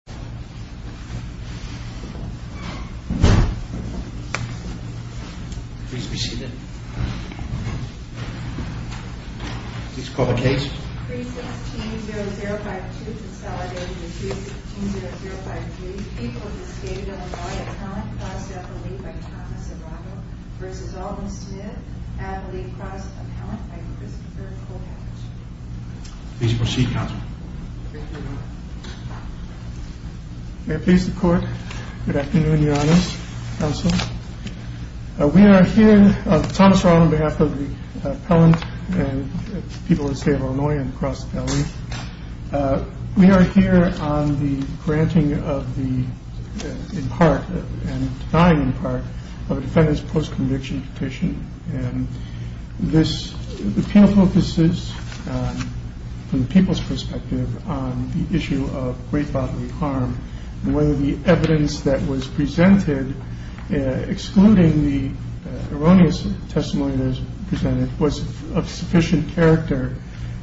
316-0052 Consolidated to 316-0053 People of the State of Illinois Appellant Crossed Appellant by Thomas Arado v. Alderman Smith Appellate Crossed Appellant by Christopher Kovacs Please proceed, Counselor. Thank you, Your Honor. The Court is adjourned. May it please the Court. Good afternoon, Your Honors. Counsel. We are here Thomas Arado on behalf of the appellant and the people of the State of Illinois and the Crossed Appellant. We are here on the granting of the in part, and denying in part of a defendant's post-conviction petition. The appeal focuses from the people's perspective on the issue of great bodily harm and whether the evidence that was presented excluding the erroneous testimony that was presented was of sufficient character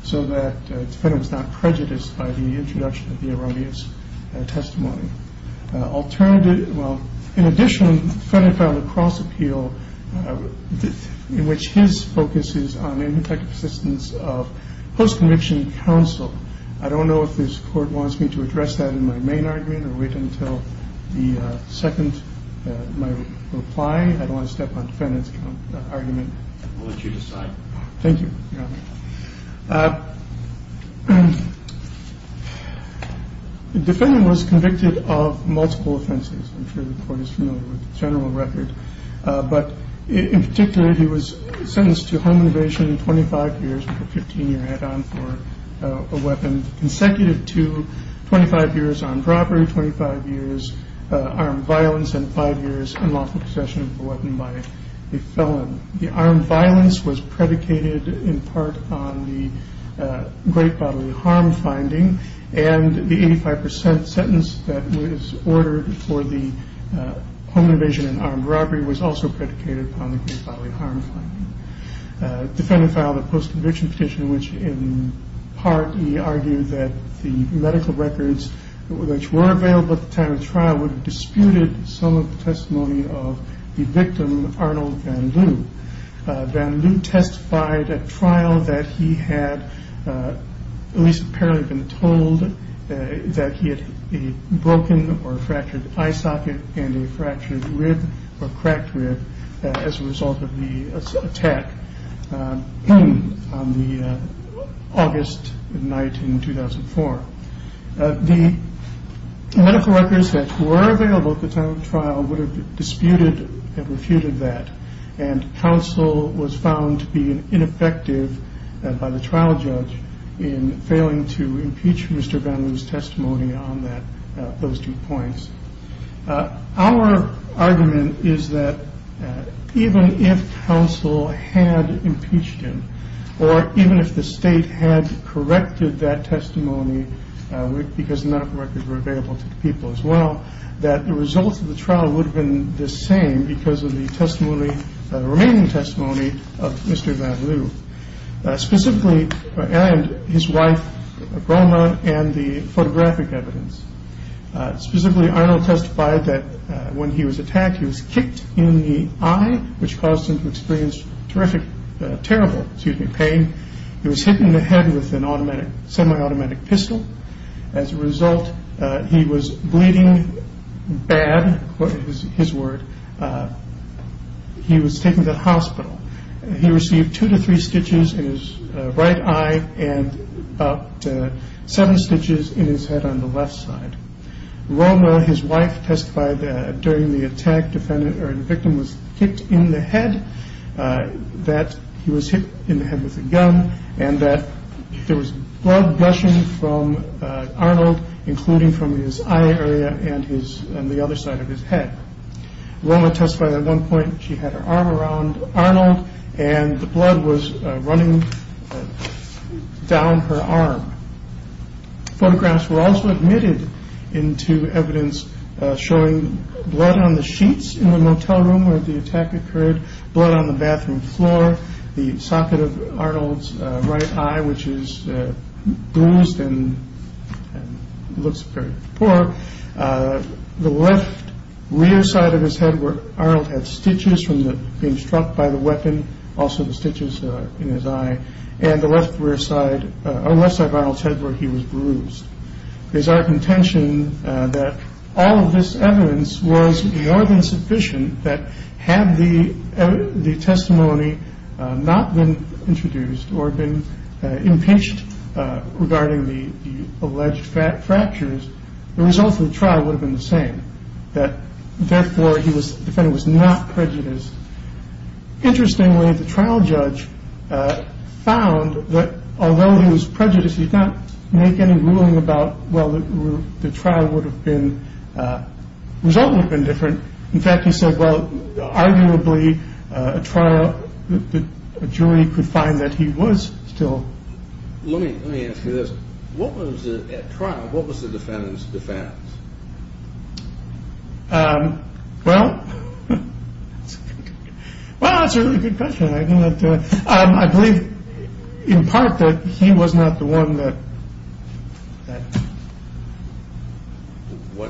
so that the defendant was not prejudiced by the introduction of the erroneous testimony. In addition, the defendant found a cross appeal in which his focus is on the ineffective persistence of post-conviction counsel. I don't know if this Court wants me to address that in my main argument or wait until the second of my reply. I don't want to step on the defendant's argument. We'll let you decide. Thank you, Your Honor. The defendant was convicted of multiple offenses. I'm sure the Court is familiar with the general record. But in particular, he was a weapon consecutive to 25 years armed robbery, 25 years armed violence, and 5 years unlawful possession of a weapon by a felon. The armed violence was predicated in part on the great bodily harm finding and the 85% sentence that was ordered for the home invasion and armed robbery was also predicated on the great bodily harm finding. The defendant filed a post-conviction petition in which in part he argued that the medical records which were available at the time of the trial would have disputed some of the testimony of the victim, Arnold Van Lue. Van Lue testified at trial that he had at least apparently been told that he had a broken or fractured eye socket and a fractured rib as a result of the attack on the August night in 2004. The medical records that were available at the time of the trial would have disputed and refuted that and counsel was found to be ineffective by the trial judge in failing to impeach Mr. Van Lue's testimony on those two points. Our argument is that even if counsel had impeached him or even if the state had corrected that testimony because medical records were available to the people as well that the results of the trial would have been the same because of the remaining testimony of Mr. Van Lue and his wife Roma and the Arnold testified that when he was attacked he was kicked in the eye which caused him to experience terrible pain. He was hit in the head with a semi-automatic pistol as a result he was bleeding bad, his word he was taken to the hospital he received two to three stitches in his right eye and about seven stitches in his head on the left side. Roma, his wife testified that during the attack the victim was kicked in the head that he was hit in the head with a gun and that there was blood gushing from Arnold including from his eye area and the other side of his head. Roma testified at one point she had her arm around Arnold and the blood was running down her arm. Photographs were also admitted into evidence showing blood on the sheets in the motel room where the attack occurred, blood on the bathroom floor the socket of Arnold's right eye which is bruised and looks very poor the left rear side of his head where Arnold had stitches from being struck by the weapon also the stitches in his eye and the left side of Arnold's head where he was bruised. It is our contention that all of this evidence was more than sufficient that had the testimony not been introduced or been impinged regarding the alleged fractures, the result of the trial would have been the same, that therefore the defendant was not prejudiced. Interestingly the trial judge found that although he was prejudiced he did not make any ruling about whether the trial would have been different, in fact he said arguably a trial jury could find that he was still Let me ask you this, what was at trial, what was the defendant's defense? Well well that's a really good question I believe in part that he was not the one that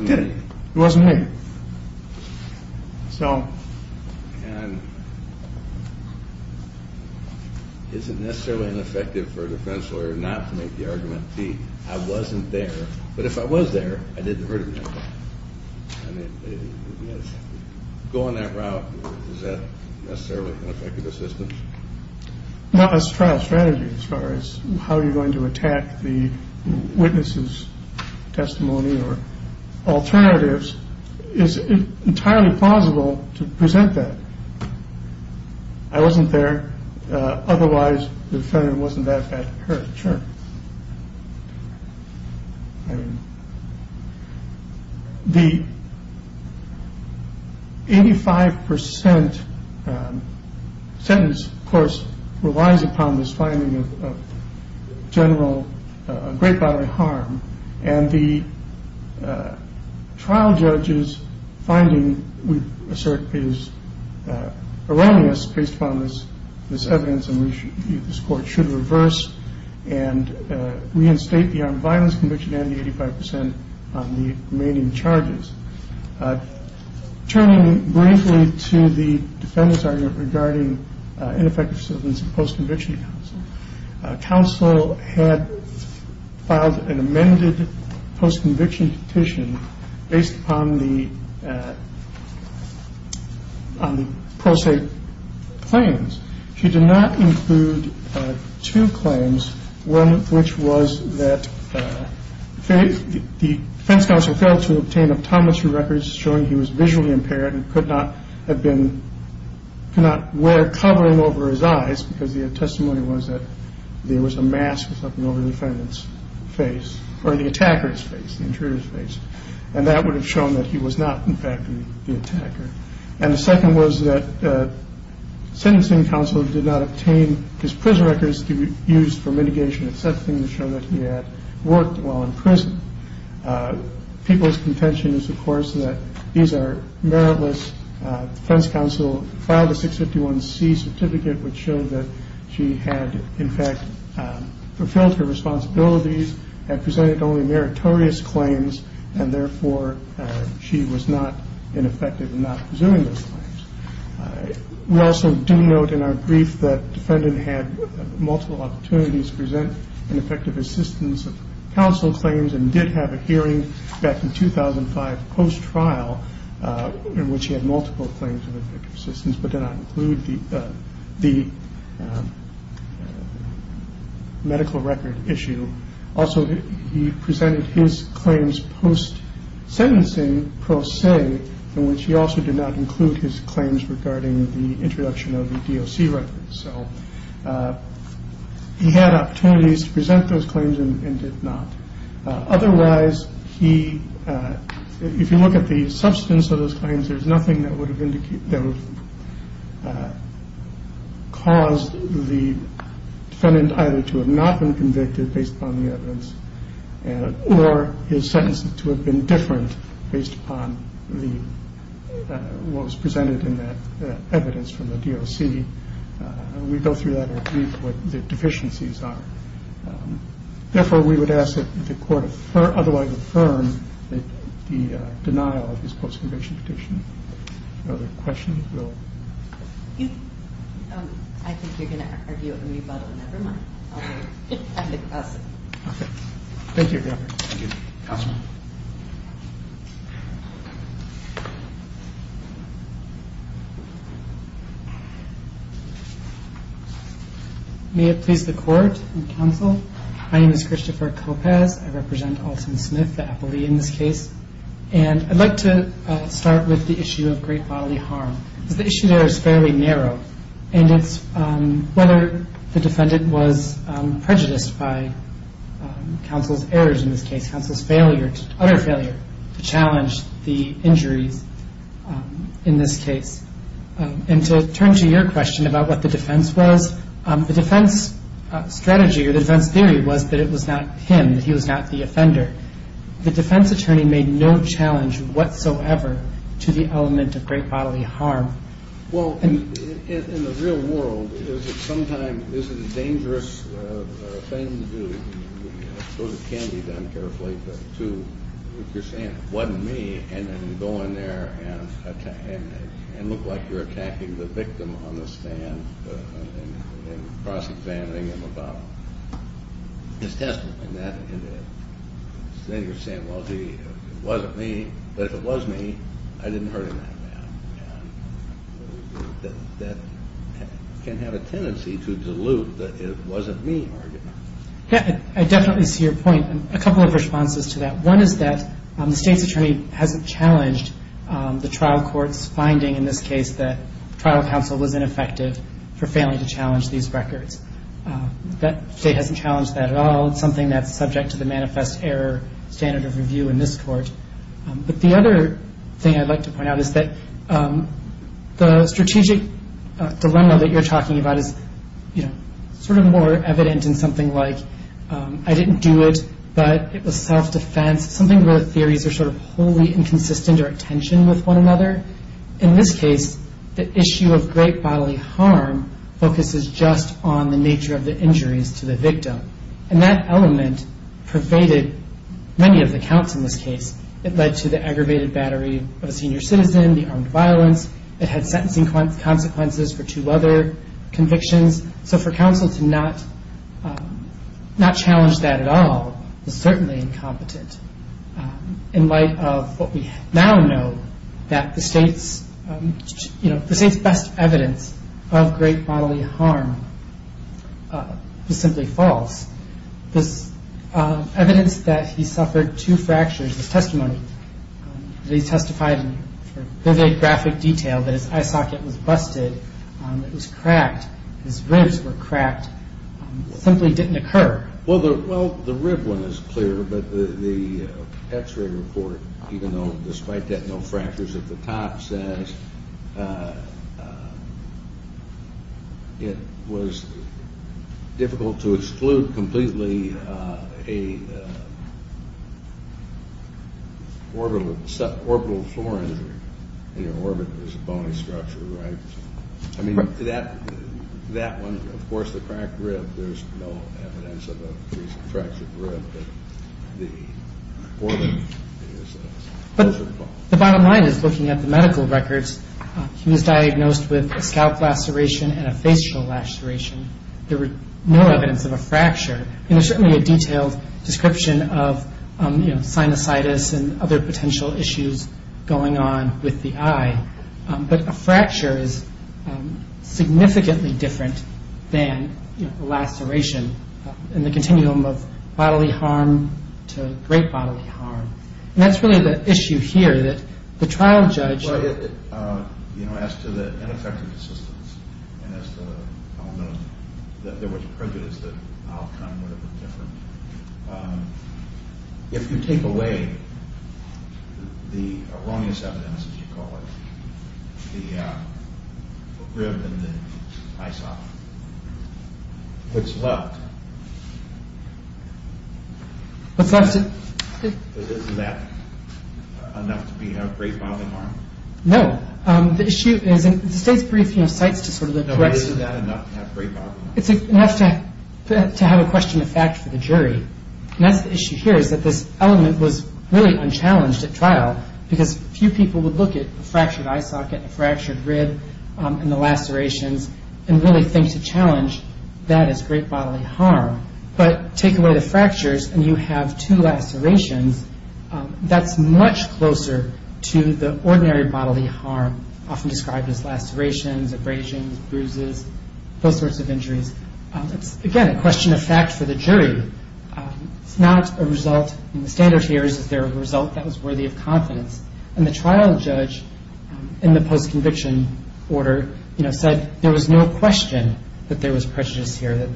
did it it wasn't him so Is it necessarily ineffective for a defense lawyer not to make the argument that I wasn't there but if I was there I didn't hurt him going that route is that necessarily an effective assistance No, a strategy as far as how you're going to attack the witness's testimony or alternatives is entirely plausible to present that I wasn't there otherwise the defendant wasn't that hurt Sure The 85% sentence of course relies upon this finding of general, great bodily harm and the trial judge's finding we assert is erroneous based upon this evidence and this court should reverse and reinstate the armed violence conviction and the 85% on the remaining charges Turning briefly to the defendant's argument regarding ineffective assistance in post-conviction counsel counsel had filed an amended post-conviction petition based upon the on the claims she did not include two claims one of which was that the defense counsel failed to obtain records showing he was visually impaired and could not have been could not wear covering over his eyes because the testimony was that there was a mask over the defendant's face or the attacker's face and that would have shown that he was not in fact the attacker and the second was that sentencing counsel did not obtain his prison records to be used for mitigation to show that he had worked while in prison people's contention is of course that these are meritless defense counsel filed a 651c certificate which showed that she had in fact fulfilled her responsibilities and presented only meritorious claims and therefore she was not ineffective in not pursuing those claims we also do note in our brief that the defendant had multiple opportunities to present ineffective assistance of counsel claims and did have a hearing back in 2005 post-trial in which he had multiple claims but did not include the medical record issue also he presented his claims post-sentencing pro se in which he also did not include his claims regarding the introduction of the DOC records he had opportunities to present those claims and did not otherwise if you look at the substance of those claims there is nothing that would have caused the defendant either to have not been convicted based upon the evidence or his sentences to have been different based upon what was presented in that evidence from the DOC we go through that in a brief what the deficiencies are therefore we would ask that the court otherwise affirm the denial of this post-conviction petition if there are other questions I think you are going to argue with me but never mind may it please the court and counsel I represent Alton Smith the appellee in this case I would like to start with the issue of great bodily harm the issue there is fairly narrow whether the defendant was prejudiced by counsel's errors in this case counsel's failure to challenge the injuries in this case to turn to your question about what the defense was the defense theory was that it was not him he was not the offender the defense attorney made no challenge whatsoever to the element of great bodily harm in the real world is it a dangerous thing to do it can be done carefully if you are saying it wasn't me and go in there and look like you are attacking the victim on the stand and cross examining him about his testimony then you are saying it wasn't me but if it was me I didn't hurt him that bad that can have a tendency to dilute that it wasn't me arguing I definitely see your point and a couple of responses to that one is that the state's attorney hasn't challenged the trial court's finding in this case that trial counsel was ineffective for failing to challenge these records the state hasn't challenged that at all it's something that's subject to the manifest error standard of review in this court but the other thing I'd like to point out is that the strategic dilemma that you are talking about is sort of more evident in something like I didn't do it but it was self-defense something where the theories are wholly inconsistent or at tension with one another in this case the issue of great bodily harm focuses just on the nature of the injuries to the victim and that element pervaded many of the counts in this case it led to the aggravated battery of a senior citizen the armed violence it had sentencing consequences for two other convictions so for counsel to not challenge that at all is certainly incompetent in light of what we now know that the state's best evidence of great bodily harm is simply false this evidence that he suffered two fractures his testimony that he testified in vivid graphic detail that his eye socket was busted it was cracked his ribs were cracked simply didn't occur well the rib one is clear but the x-ray report despite that no fractures at the top says it was difficult to exclude completely a orbital floor injury in your orbit it was a bony structure that one of course the cracked rib there's no evidence of a fractured rib but the orbit the bottom line is looking at the medical records he was diagnosed with a scalp laceration and a facial laceration there was no evidence of a fracture there was certainly a detailed description of sinusitis and other potential issues going on with the eye but a fracture is significantly different than a laceration in the continuum of bodily harm to great bodily harm and that's really the issue here that the trial judge as to the ineffective assistance and as to the element of that there was prejudice that if you take away the erroneous evidence as you call it the rib and the eye socket what's left isn't that enough to be great bodily harm no it's enough to have a question of fact for the jury and that's the issue here this element was really unchallenged at trial because few people would look at a fractured eye socket a fractured rib and the lacerations and really think to challenge that as great bodily harm but take away the fractures and you have two lacerations that's much closer to the ordinary bodily harm often described as lacerations abrasions, bruises, those sorts of injuries it's again a question of fact for the jury it's not a result the standard here is that it was a result that was worthy of confidence and the trial judge in the post-conviction order said there was no question that there was prejudice here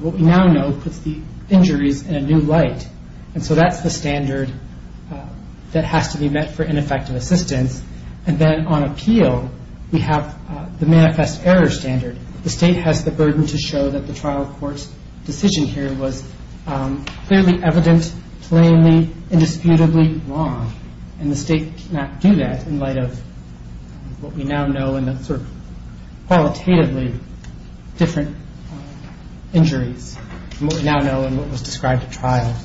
what we now know puts the injuries in a new light and so that's the standard that has to be met for ineffective assistance and then on appeal we have the manifest error standard the state has the burden to show that the trial court's decision here was clearly evident plainly, indisputably wrong and the state cannot do that in light of what we now know qualitatively different injuries from what we now know and what was described at trial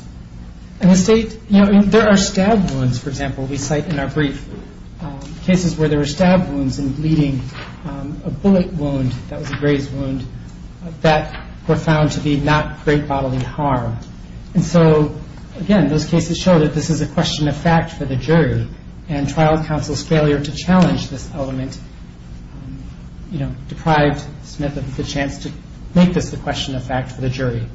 and the state, there are stab wounds for example we cite in our brief cases where there were stab wounds and bleeding a bullet wound, that was a graze wound that were found to be not great bodily harm and so again those cases show that this is a question of fact for the jury and trial counsel's failure to challenge this element, you know, deprived Smith of the chance to make this a question of fact for the jury.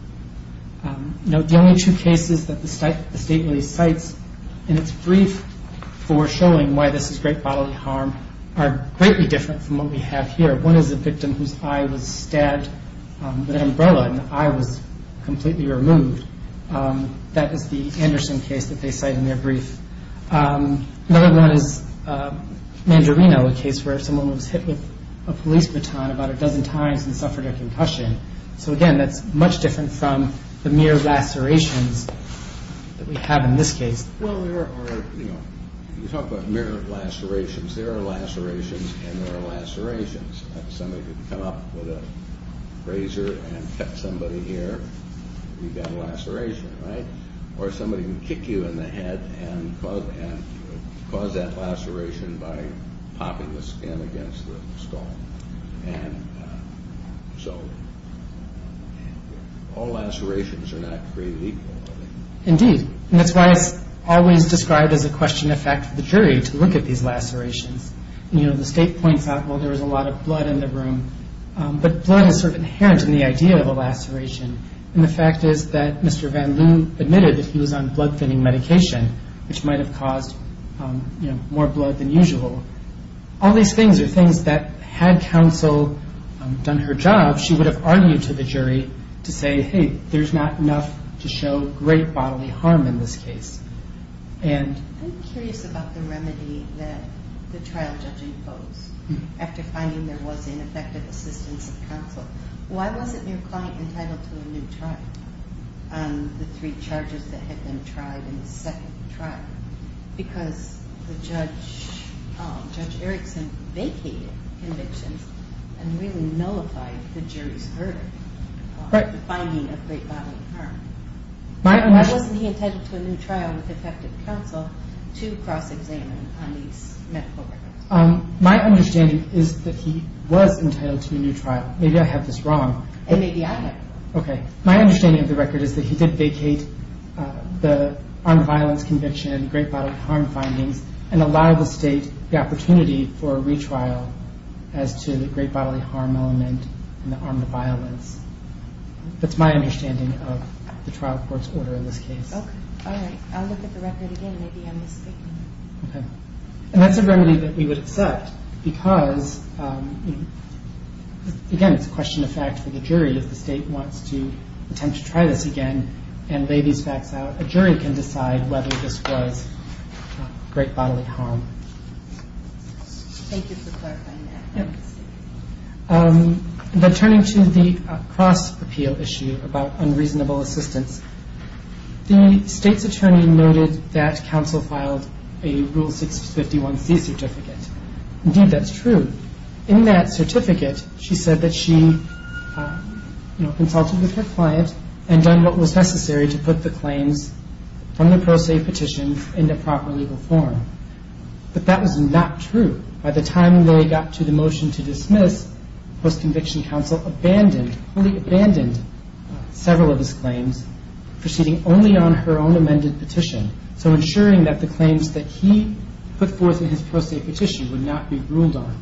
The only two cases that the state really cites in its brief for showing why this is great bodily harm are greatly different from what we have here one is a victim whose eye was stabbed with an umbrella and the eye was completely removed that is the Anderson case that they cite in their brief another one is Mandarino, a case where someone was hit with a police baton about a dozen times and suffered a concussion so again that's much different from the mere lacerations that we have in this case well there are, you know, you talk about mere lacerations there are lacerations and there are lacerations somebody could come up with a razor and cut somebody here, you've got a laceration or somebody can kick you in the head and cause that laceration by popping the skin against the skull and so all lacerations are not created equal indeed, and that's why it's always described as a question of fact for the jury to look at these lacerations you know, the state points out, well there was a lot of blood in the room but blood is sort of inherent in the idea of a laceration and the fact is that Mr. Van Loon admitted that he was on blood thinning medication which might have caused more blood than usual all these things are things that had counsel done her job, she would have argued to the jury to say, hey, there's not enough to show great bodily harm in this case I'm curious about the remedy that the trial judge imposed after finding there was ineffective assistance of counsel, why wasn't your client entitled to a new trial on the three charges that had been tried in the second trial because Judge Erickson vacated convictions and really nullified the jury's verdict finding of great bodily harm why wasn't he entitled to a new trial with effective counsel to cross examine on these medical records my understanding is that he was entitled to a new trial maybe I have this wrong my understanding of the record is that he did vacate the armed violence conviction, great bodily harm findings and allowed the state the opportunity for a retrial as to the great bodily harm element and the armed violence that's my understanding of the trial court's order in this case I'll look at the record again, maybe I'm mistaken and that's a remedy that we would accept because again, it's a question of fact for the jury if the state wants to attempt to try this again and lay these facts out, a jury can decide whether this was great bodily harm thank you for clarifying that then turning to the cross appeal issue about unreasonable assistance the state's attorney noted that counsel filed a rule 651c certificate indeed that's true in that certificate she said that she consulted with her client and done what was necessary to put the claims from the pro se petition in the proper legal form by the time they got to the motion to dismiss counsel abandoned several of his claims proceeding only on her own amended petition so ensuring that the claims that he put forth in his pro se petition would not be ruled on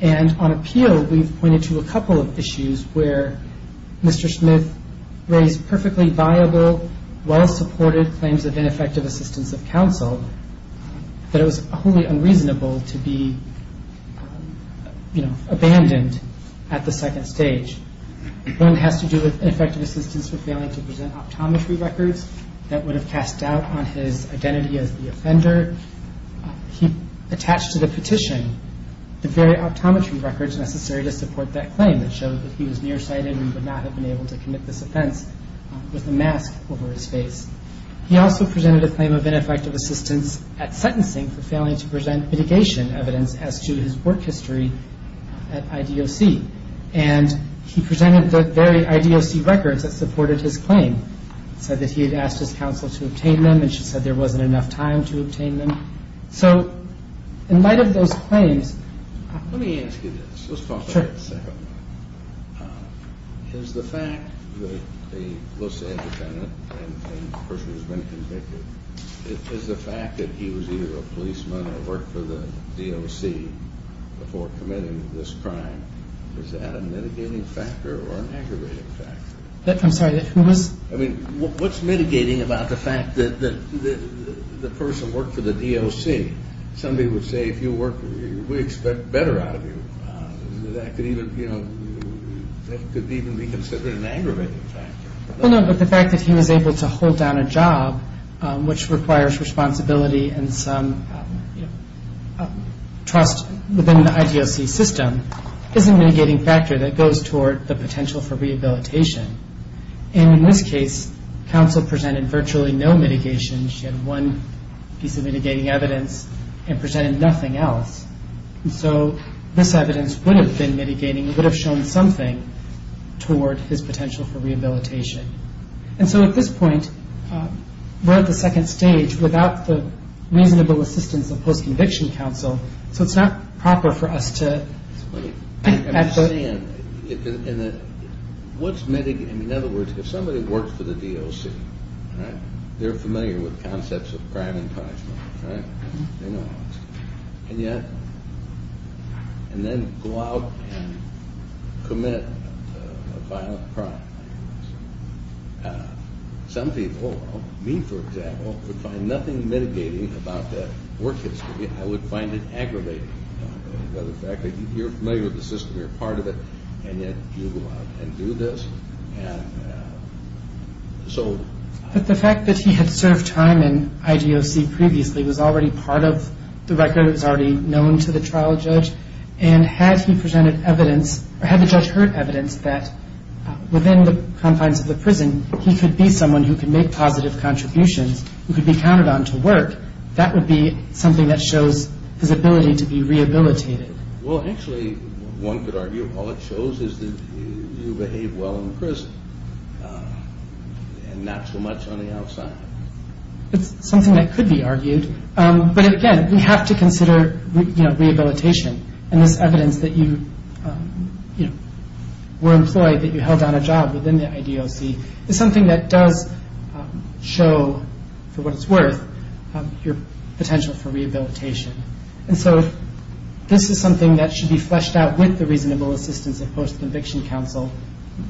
and on appeal we've pointed to a couple of issues where Mr. Smith raised perfectly viable well supported claims of ineffective assistance of counsel that it was wholly unreasonable to be abandoned at the second stage one has to do with ineffective assistance for failing to present optometry records that would have cast doubt on his identity as the offender he attached to the petition the very optometry records necessary to support that claim that showed that he was nearsighted and would not have been able to commit this offense with a mask over his face he also presented a claim of ineffective assistance at sentencing for failing to present mitigation evidence as to his work history at IDOC and he presented the very IDOC records that supported his claim said that he had asked his counsel to obtain them and she said there wasn't enough time to obtain them so in light of those claims let me ask you this is the fact that the let's say a defendant and the person who has been convicted is the fact that he was either a policeman or worked for the DOC before committing this crime is that a mitigating factor or an aggravating factor I mean what's mitigating about the fact that the person worked for the DOC somebody would say if you work we expect better out of you that could even be considered an aggravating factor well no but the fact that he was able to hold down a job which requires responsibility and some trust within the IDOC system is a mitigating factor that goes toward the potential for rehabilitation and in this case counsel presented virtually no mitigation she had one piece of mitigating evidence and presented nothing else so this evidence would have been mitigating would have shown something toward his potential for rehabilitation and so at this point we're at the second stage without the reasonable assistance of post conviction counsel so it's not proper for us to what's mitigating in other words if somebody worked for the DOC they're familiar with concepts of crime and punishment and yet and then go out and commit a violent crime some people me for example would find nothing mitigating about that work history I would find it aggravating by the fact that you're familiar with the system you're part of it and yet you go out and do this but the fact that he had served time in IDOC previously was already part of the record it was already known to the trial judge and had he presented evidence or had the judge heard evidence that within the confines of the prison he could be someone who could make positive contributions who could be counted on to work that would be something that shows his ability to be rehabilitated well actually one could argue all it shows is that you behave well in prison and not so much on the outside it's something that could be argued but again we have to consider rehabilitation and this evidence that you were employed that you held on a job within the IDOC is something that does show for what it's worth your potential for rehabilitation and so this is something that should be fleshed out with the reasonable assistance of post-conviction counsel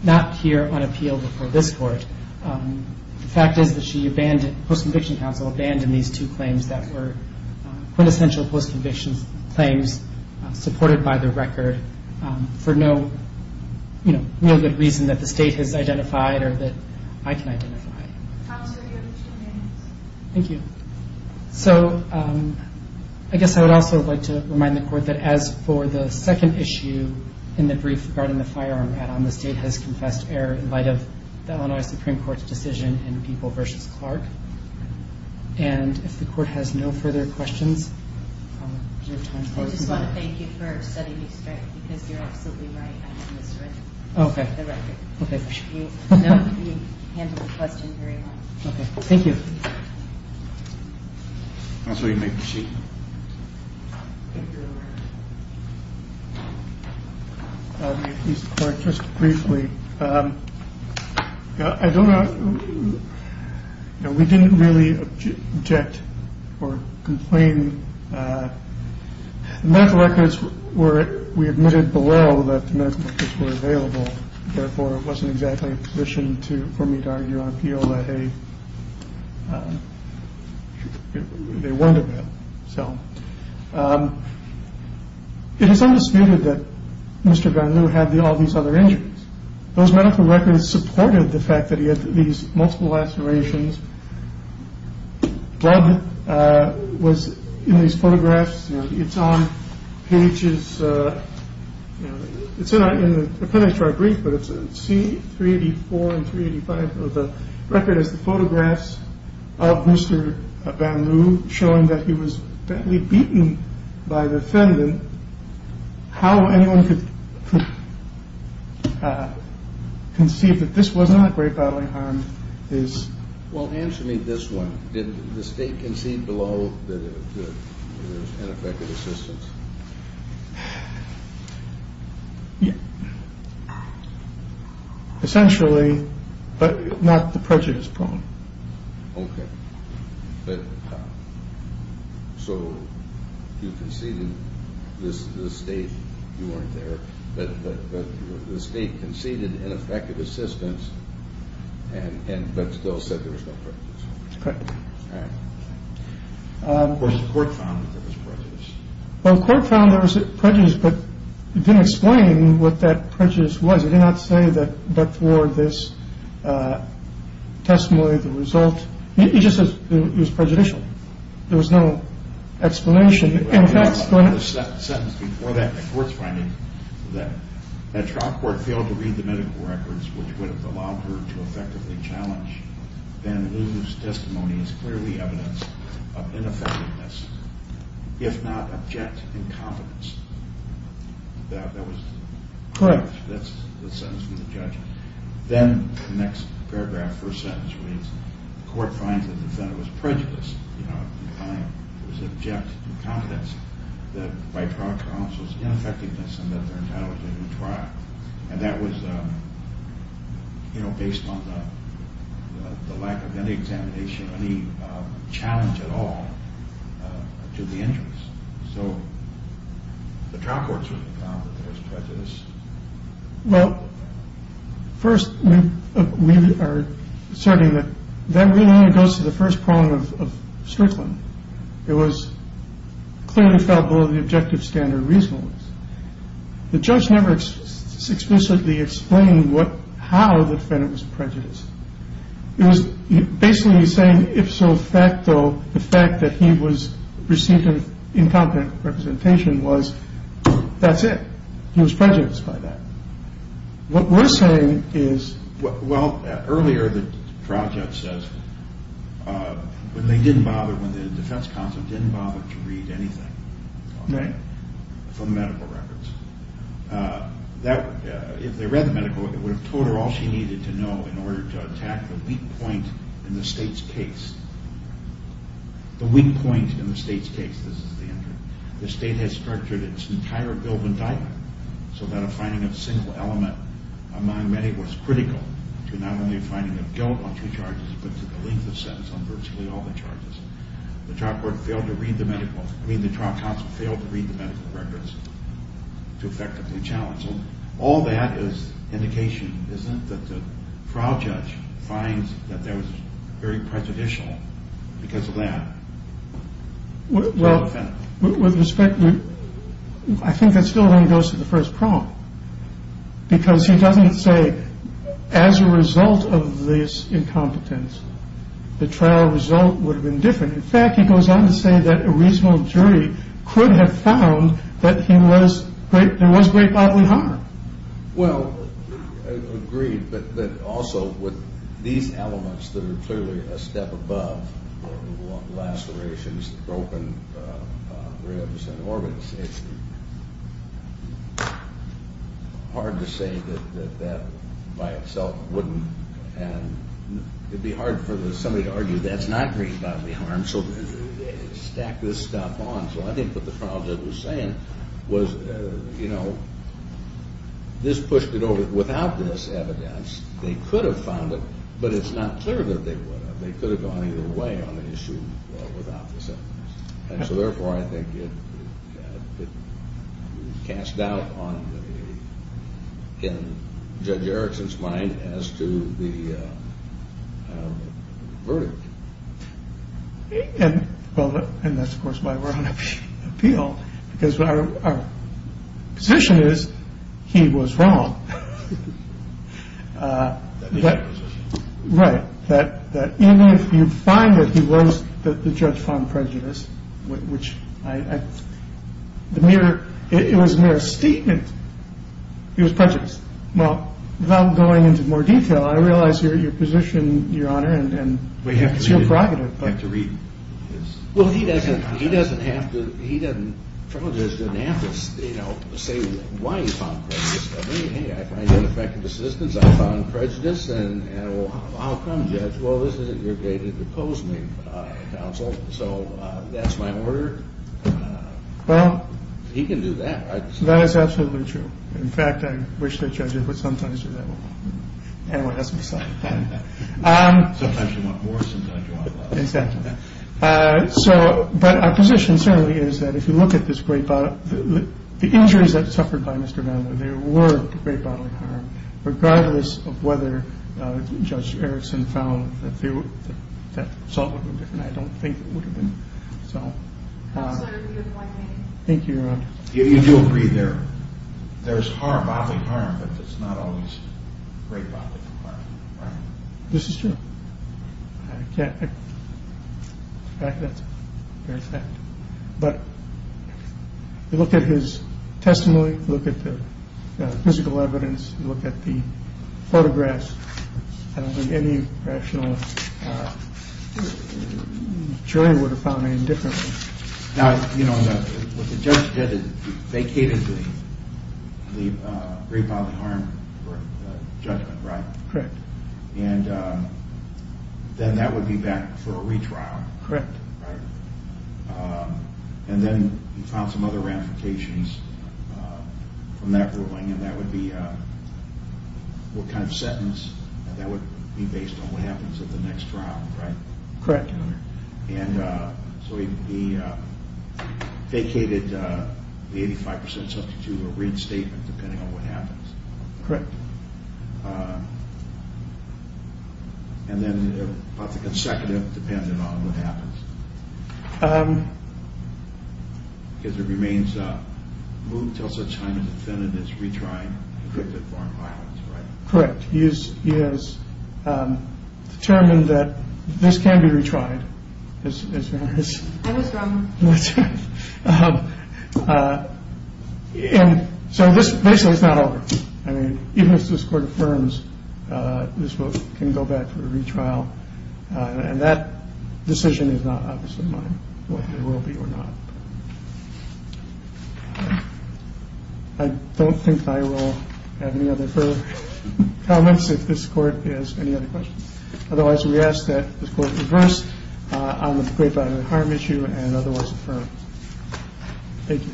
not here on appeal before this court the fact is that she abandoned post-conviction counsel abandoned these two claims that were quintessential post-conviction claims supported by the record for no good reason that the state has identified or that I can identify thank you so I guess I would also like to remind the court that as for the second issue in the brief regarding the firearm add-on the state has confessed error in light of the Illinois Supreme Court's decision in People v. Clark and if the court has no further questions I just want to thank you for setting me straight because you are absolutely right ok thank you just briefly I don't know we didn't really object or complain medical records were we admitted below I know that medical records were available therefore it wasn't exactly a condition for me to argue on appeal that they weren't available it is undisputed that Mr. Garneau had all these other injuries those medical records supported the fact that he had these multiple lacerations blood was in these photographs it's on pages it's not in the appendix to our brief but it's in C384 and 385 the record is the photographs of Mr. Garneau showing that he was badly beaten by the defendant how anyone could conceive that this was not grave bodily harm well answer me this one did the state concede below that there was ineffective assistance yes essentially but not the prejudice problem ok so you conceded the state you weren't there but the state conceded ineffective assistance but still said there was no prejudice correct the court found there was prejudice the court found there was prejudice but it didn't explain what that prejudice was it did not say that before this testimony the result it was prejudicial there was no explanation in fact the trial court failed to read the medical records which would have allowed her to effectively challenge then lose testimony as clearly evidence of ineffectiveness if not object incompetence correct then the next paragraph the first sentence reads the court finds the defendant was prejudiced that by trial counsel's ineffectiveness and that their entitlement to a new trial and that was based on the lack of any examination any challenge at all to the injuries so the trial court found there was prejudice well first we are asserting that that really only goes to the first problem of Strickland it was clearly felt below the objective standard reasonably the judge never explicitly explained how the defendant was prejudiced it was basically saying if so facto the fact that he was received an incompetent representation that's it he was prejudiced by that what we are saying is earlier the trial judge said they didn't bother to read anything from medical records if they read the medical records it would have told her all she needed to know in order to attack the weak point in the state's case the weak point in the state's case the state has structured its entire bill of indictment so that a finding of single element among many was critical to not only a finding of guilt on two charges but to the length of sentence on virtually all the charges the trial counsel failed to read the medical records to effectively challenge them all that is indication that the trial judge finds that there was very prejudicial because of that I think that still only goes to the first problem because he doesn't say as a result of this incompetence the trial result would have been different in fact he goes on to say that a reasonable jury could have found that there was great bodily harm well agreed but also with these elements that are clearly a step above lacerations broken ribs and orbits it's hard to say that that by itself wouldn't and it would be hard for somebody to argue that's not great bodily harm so stack this stuff on I think what the trial judge was saying this pushed it over without this evidence they could have found it but it's not clear that they would have they could have gone either way on the issue therefore I think it casts doubt on Judge Erickson's mind as to the verdict and that's of course why we're on appeal because our position is he was wrong right even if you find that he was the judge found prejudiced it was a mere statement he was prejudiced without going into more detail I realize your position we have to read his he doesn't have to say why he found prejudice I find ineffective assistance I found prejudice how come judge that's my order he can do that that is absolutely true in fact I wish the judge would sometimes do that sometimes you want more sometimes you want less our position is the injuries that were suffered regardless of whether Judge Erickson found I don't think it would have been you do agree there is bodily harm but it's not always great bodily harm this is true that's a fact but look at his testimony physical evidence photographs I don't think any professional jury would have found anything different the judge vacated the great bodily harm judgment then that would be back for a retrial correct and then you found some other ramifications from that ruling that would be what kind of sentence based on what happens in the next trial correct he vacated the 85% depending on what happens correct and then about the consecutive depending on what happens correct he has determined that this can be retried basically it's not over even if this court affirms this can go back for a retrial and that decision is not obviously mine I don't think I will have any other further comments if this court has any other questions otherwise we ask that this court reverse on the great bodily harm issue and otherwise affirm thank you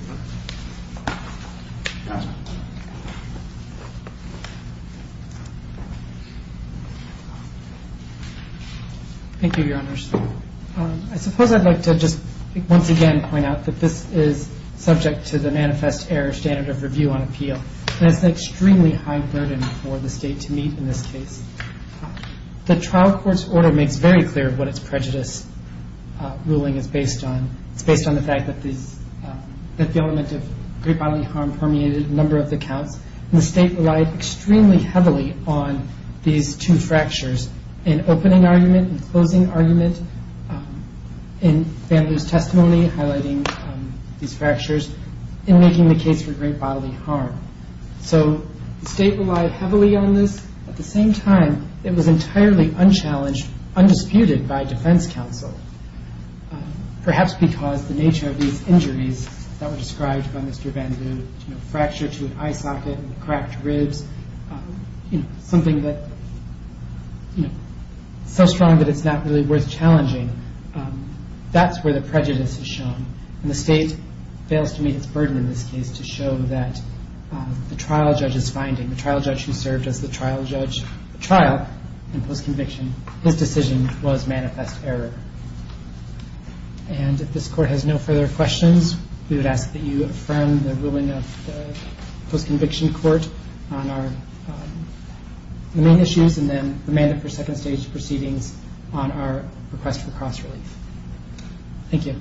thank you your honor I suppose I would like to once again point out that this is subject to the manifest error standard of review on appeal and it's an extremely high burden for the state to meet in this case the trial court's order makes very clear what it's prejudice ruling is based on it's based on the fact that the element of great bodily harm permeated a number of the counts and the state relied extremely heavily on these two fractures in opening argument and closing argument in bamboo's testimony highlighting these fractures in making the case for great bodily harm so the state relied heavily on this at the same time it was entirely unchallenged undisputed by defense counsel perhaps because the nature of these injuries that were described by Mr. Bamboo fracture to an eye socket, cracked ribs something that so strong that it's not really worth challenging that's where the prejudice is shown and the state fails to meet its burden in this case to show that the trial judge's finding the trial judge who served as the trial judge in post conviction, his decision was manifest error and if this court has no further questions we would ask that you affirm the ruling of post conviction court on our main issues and then the mandate for second stage proceedings on our request for cross relief thank you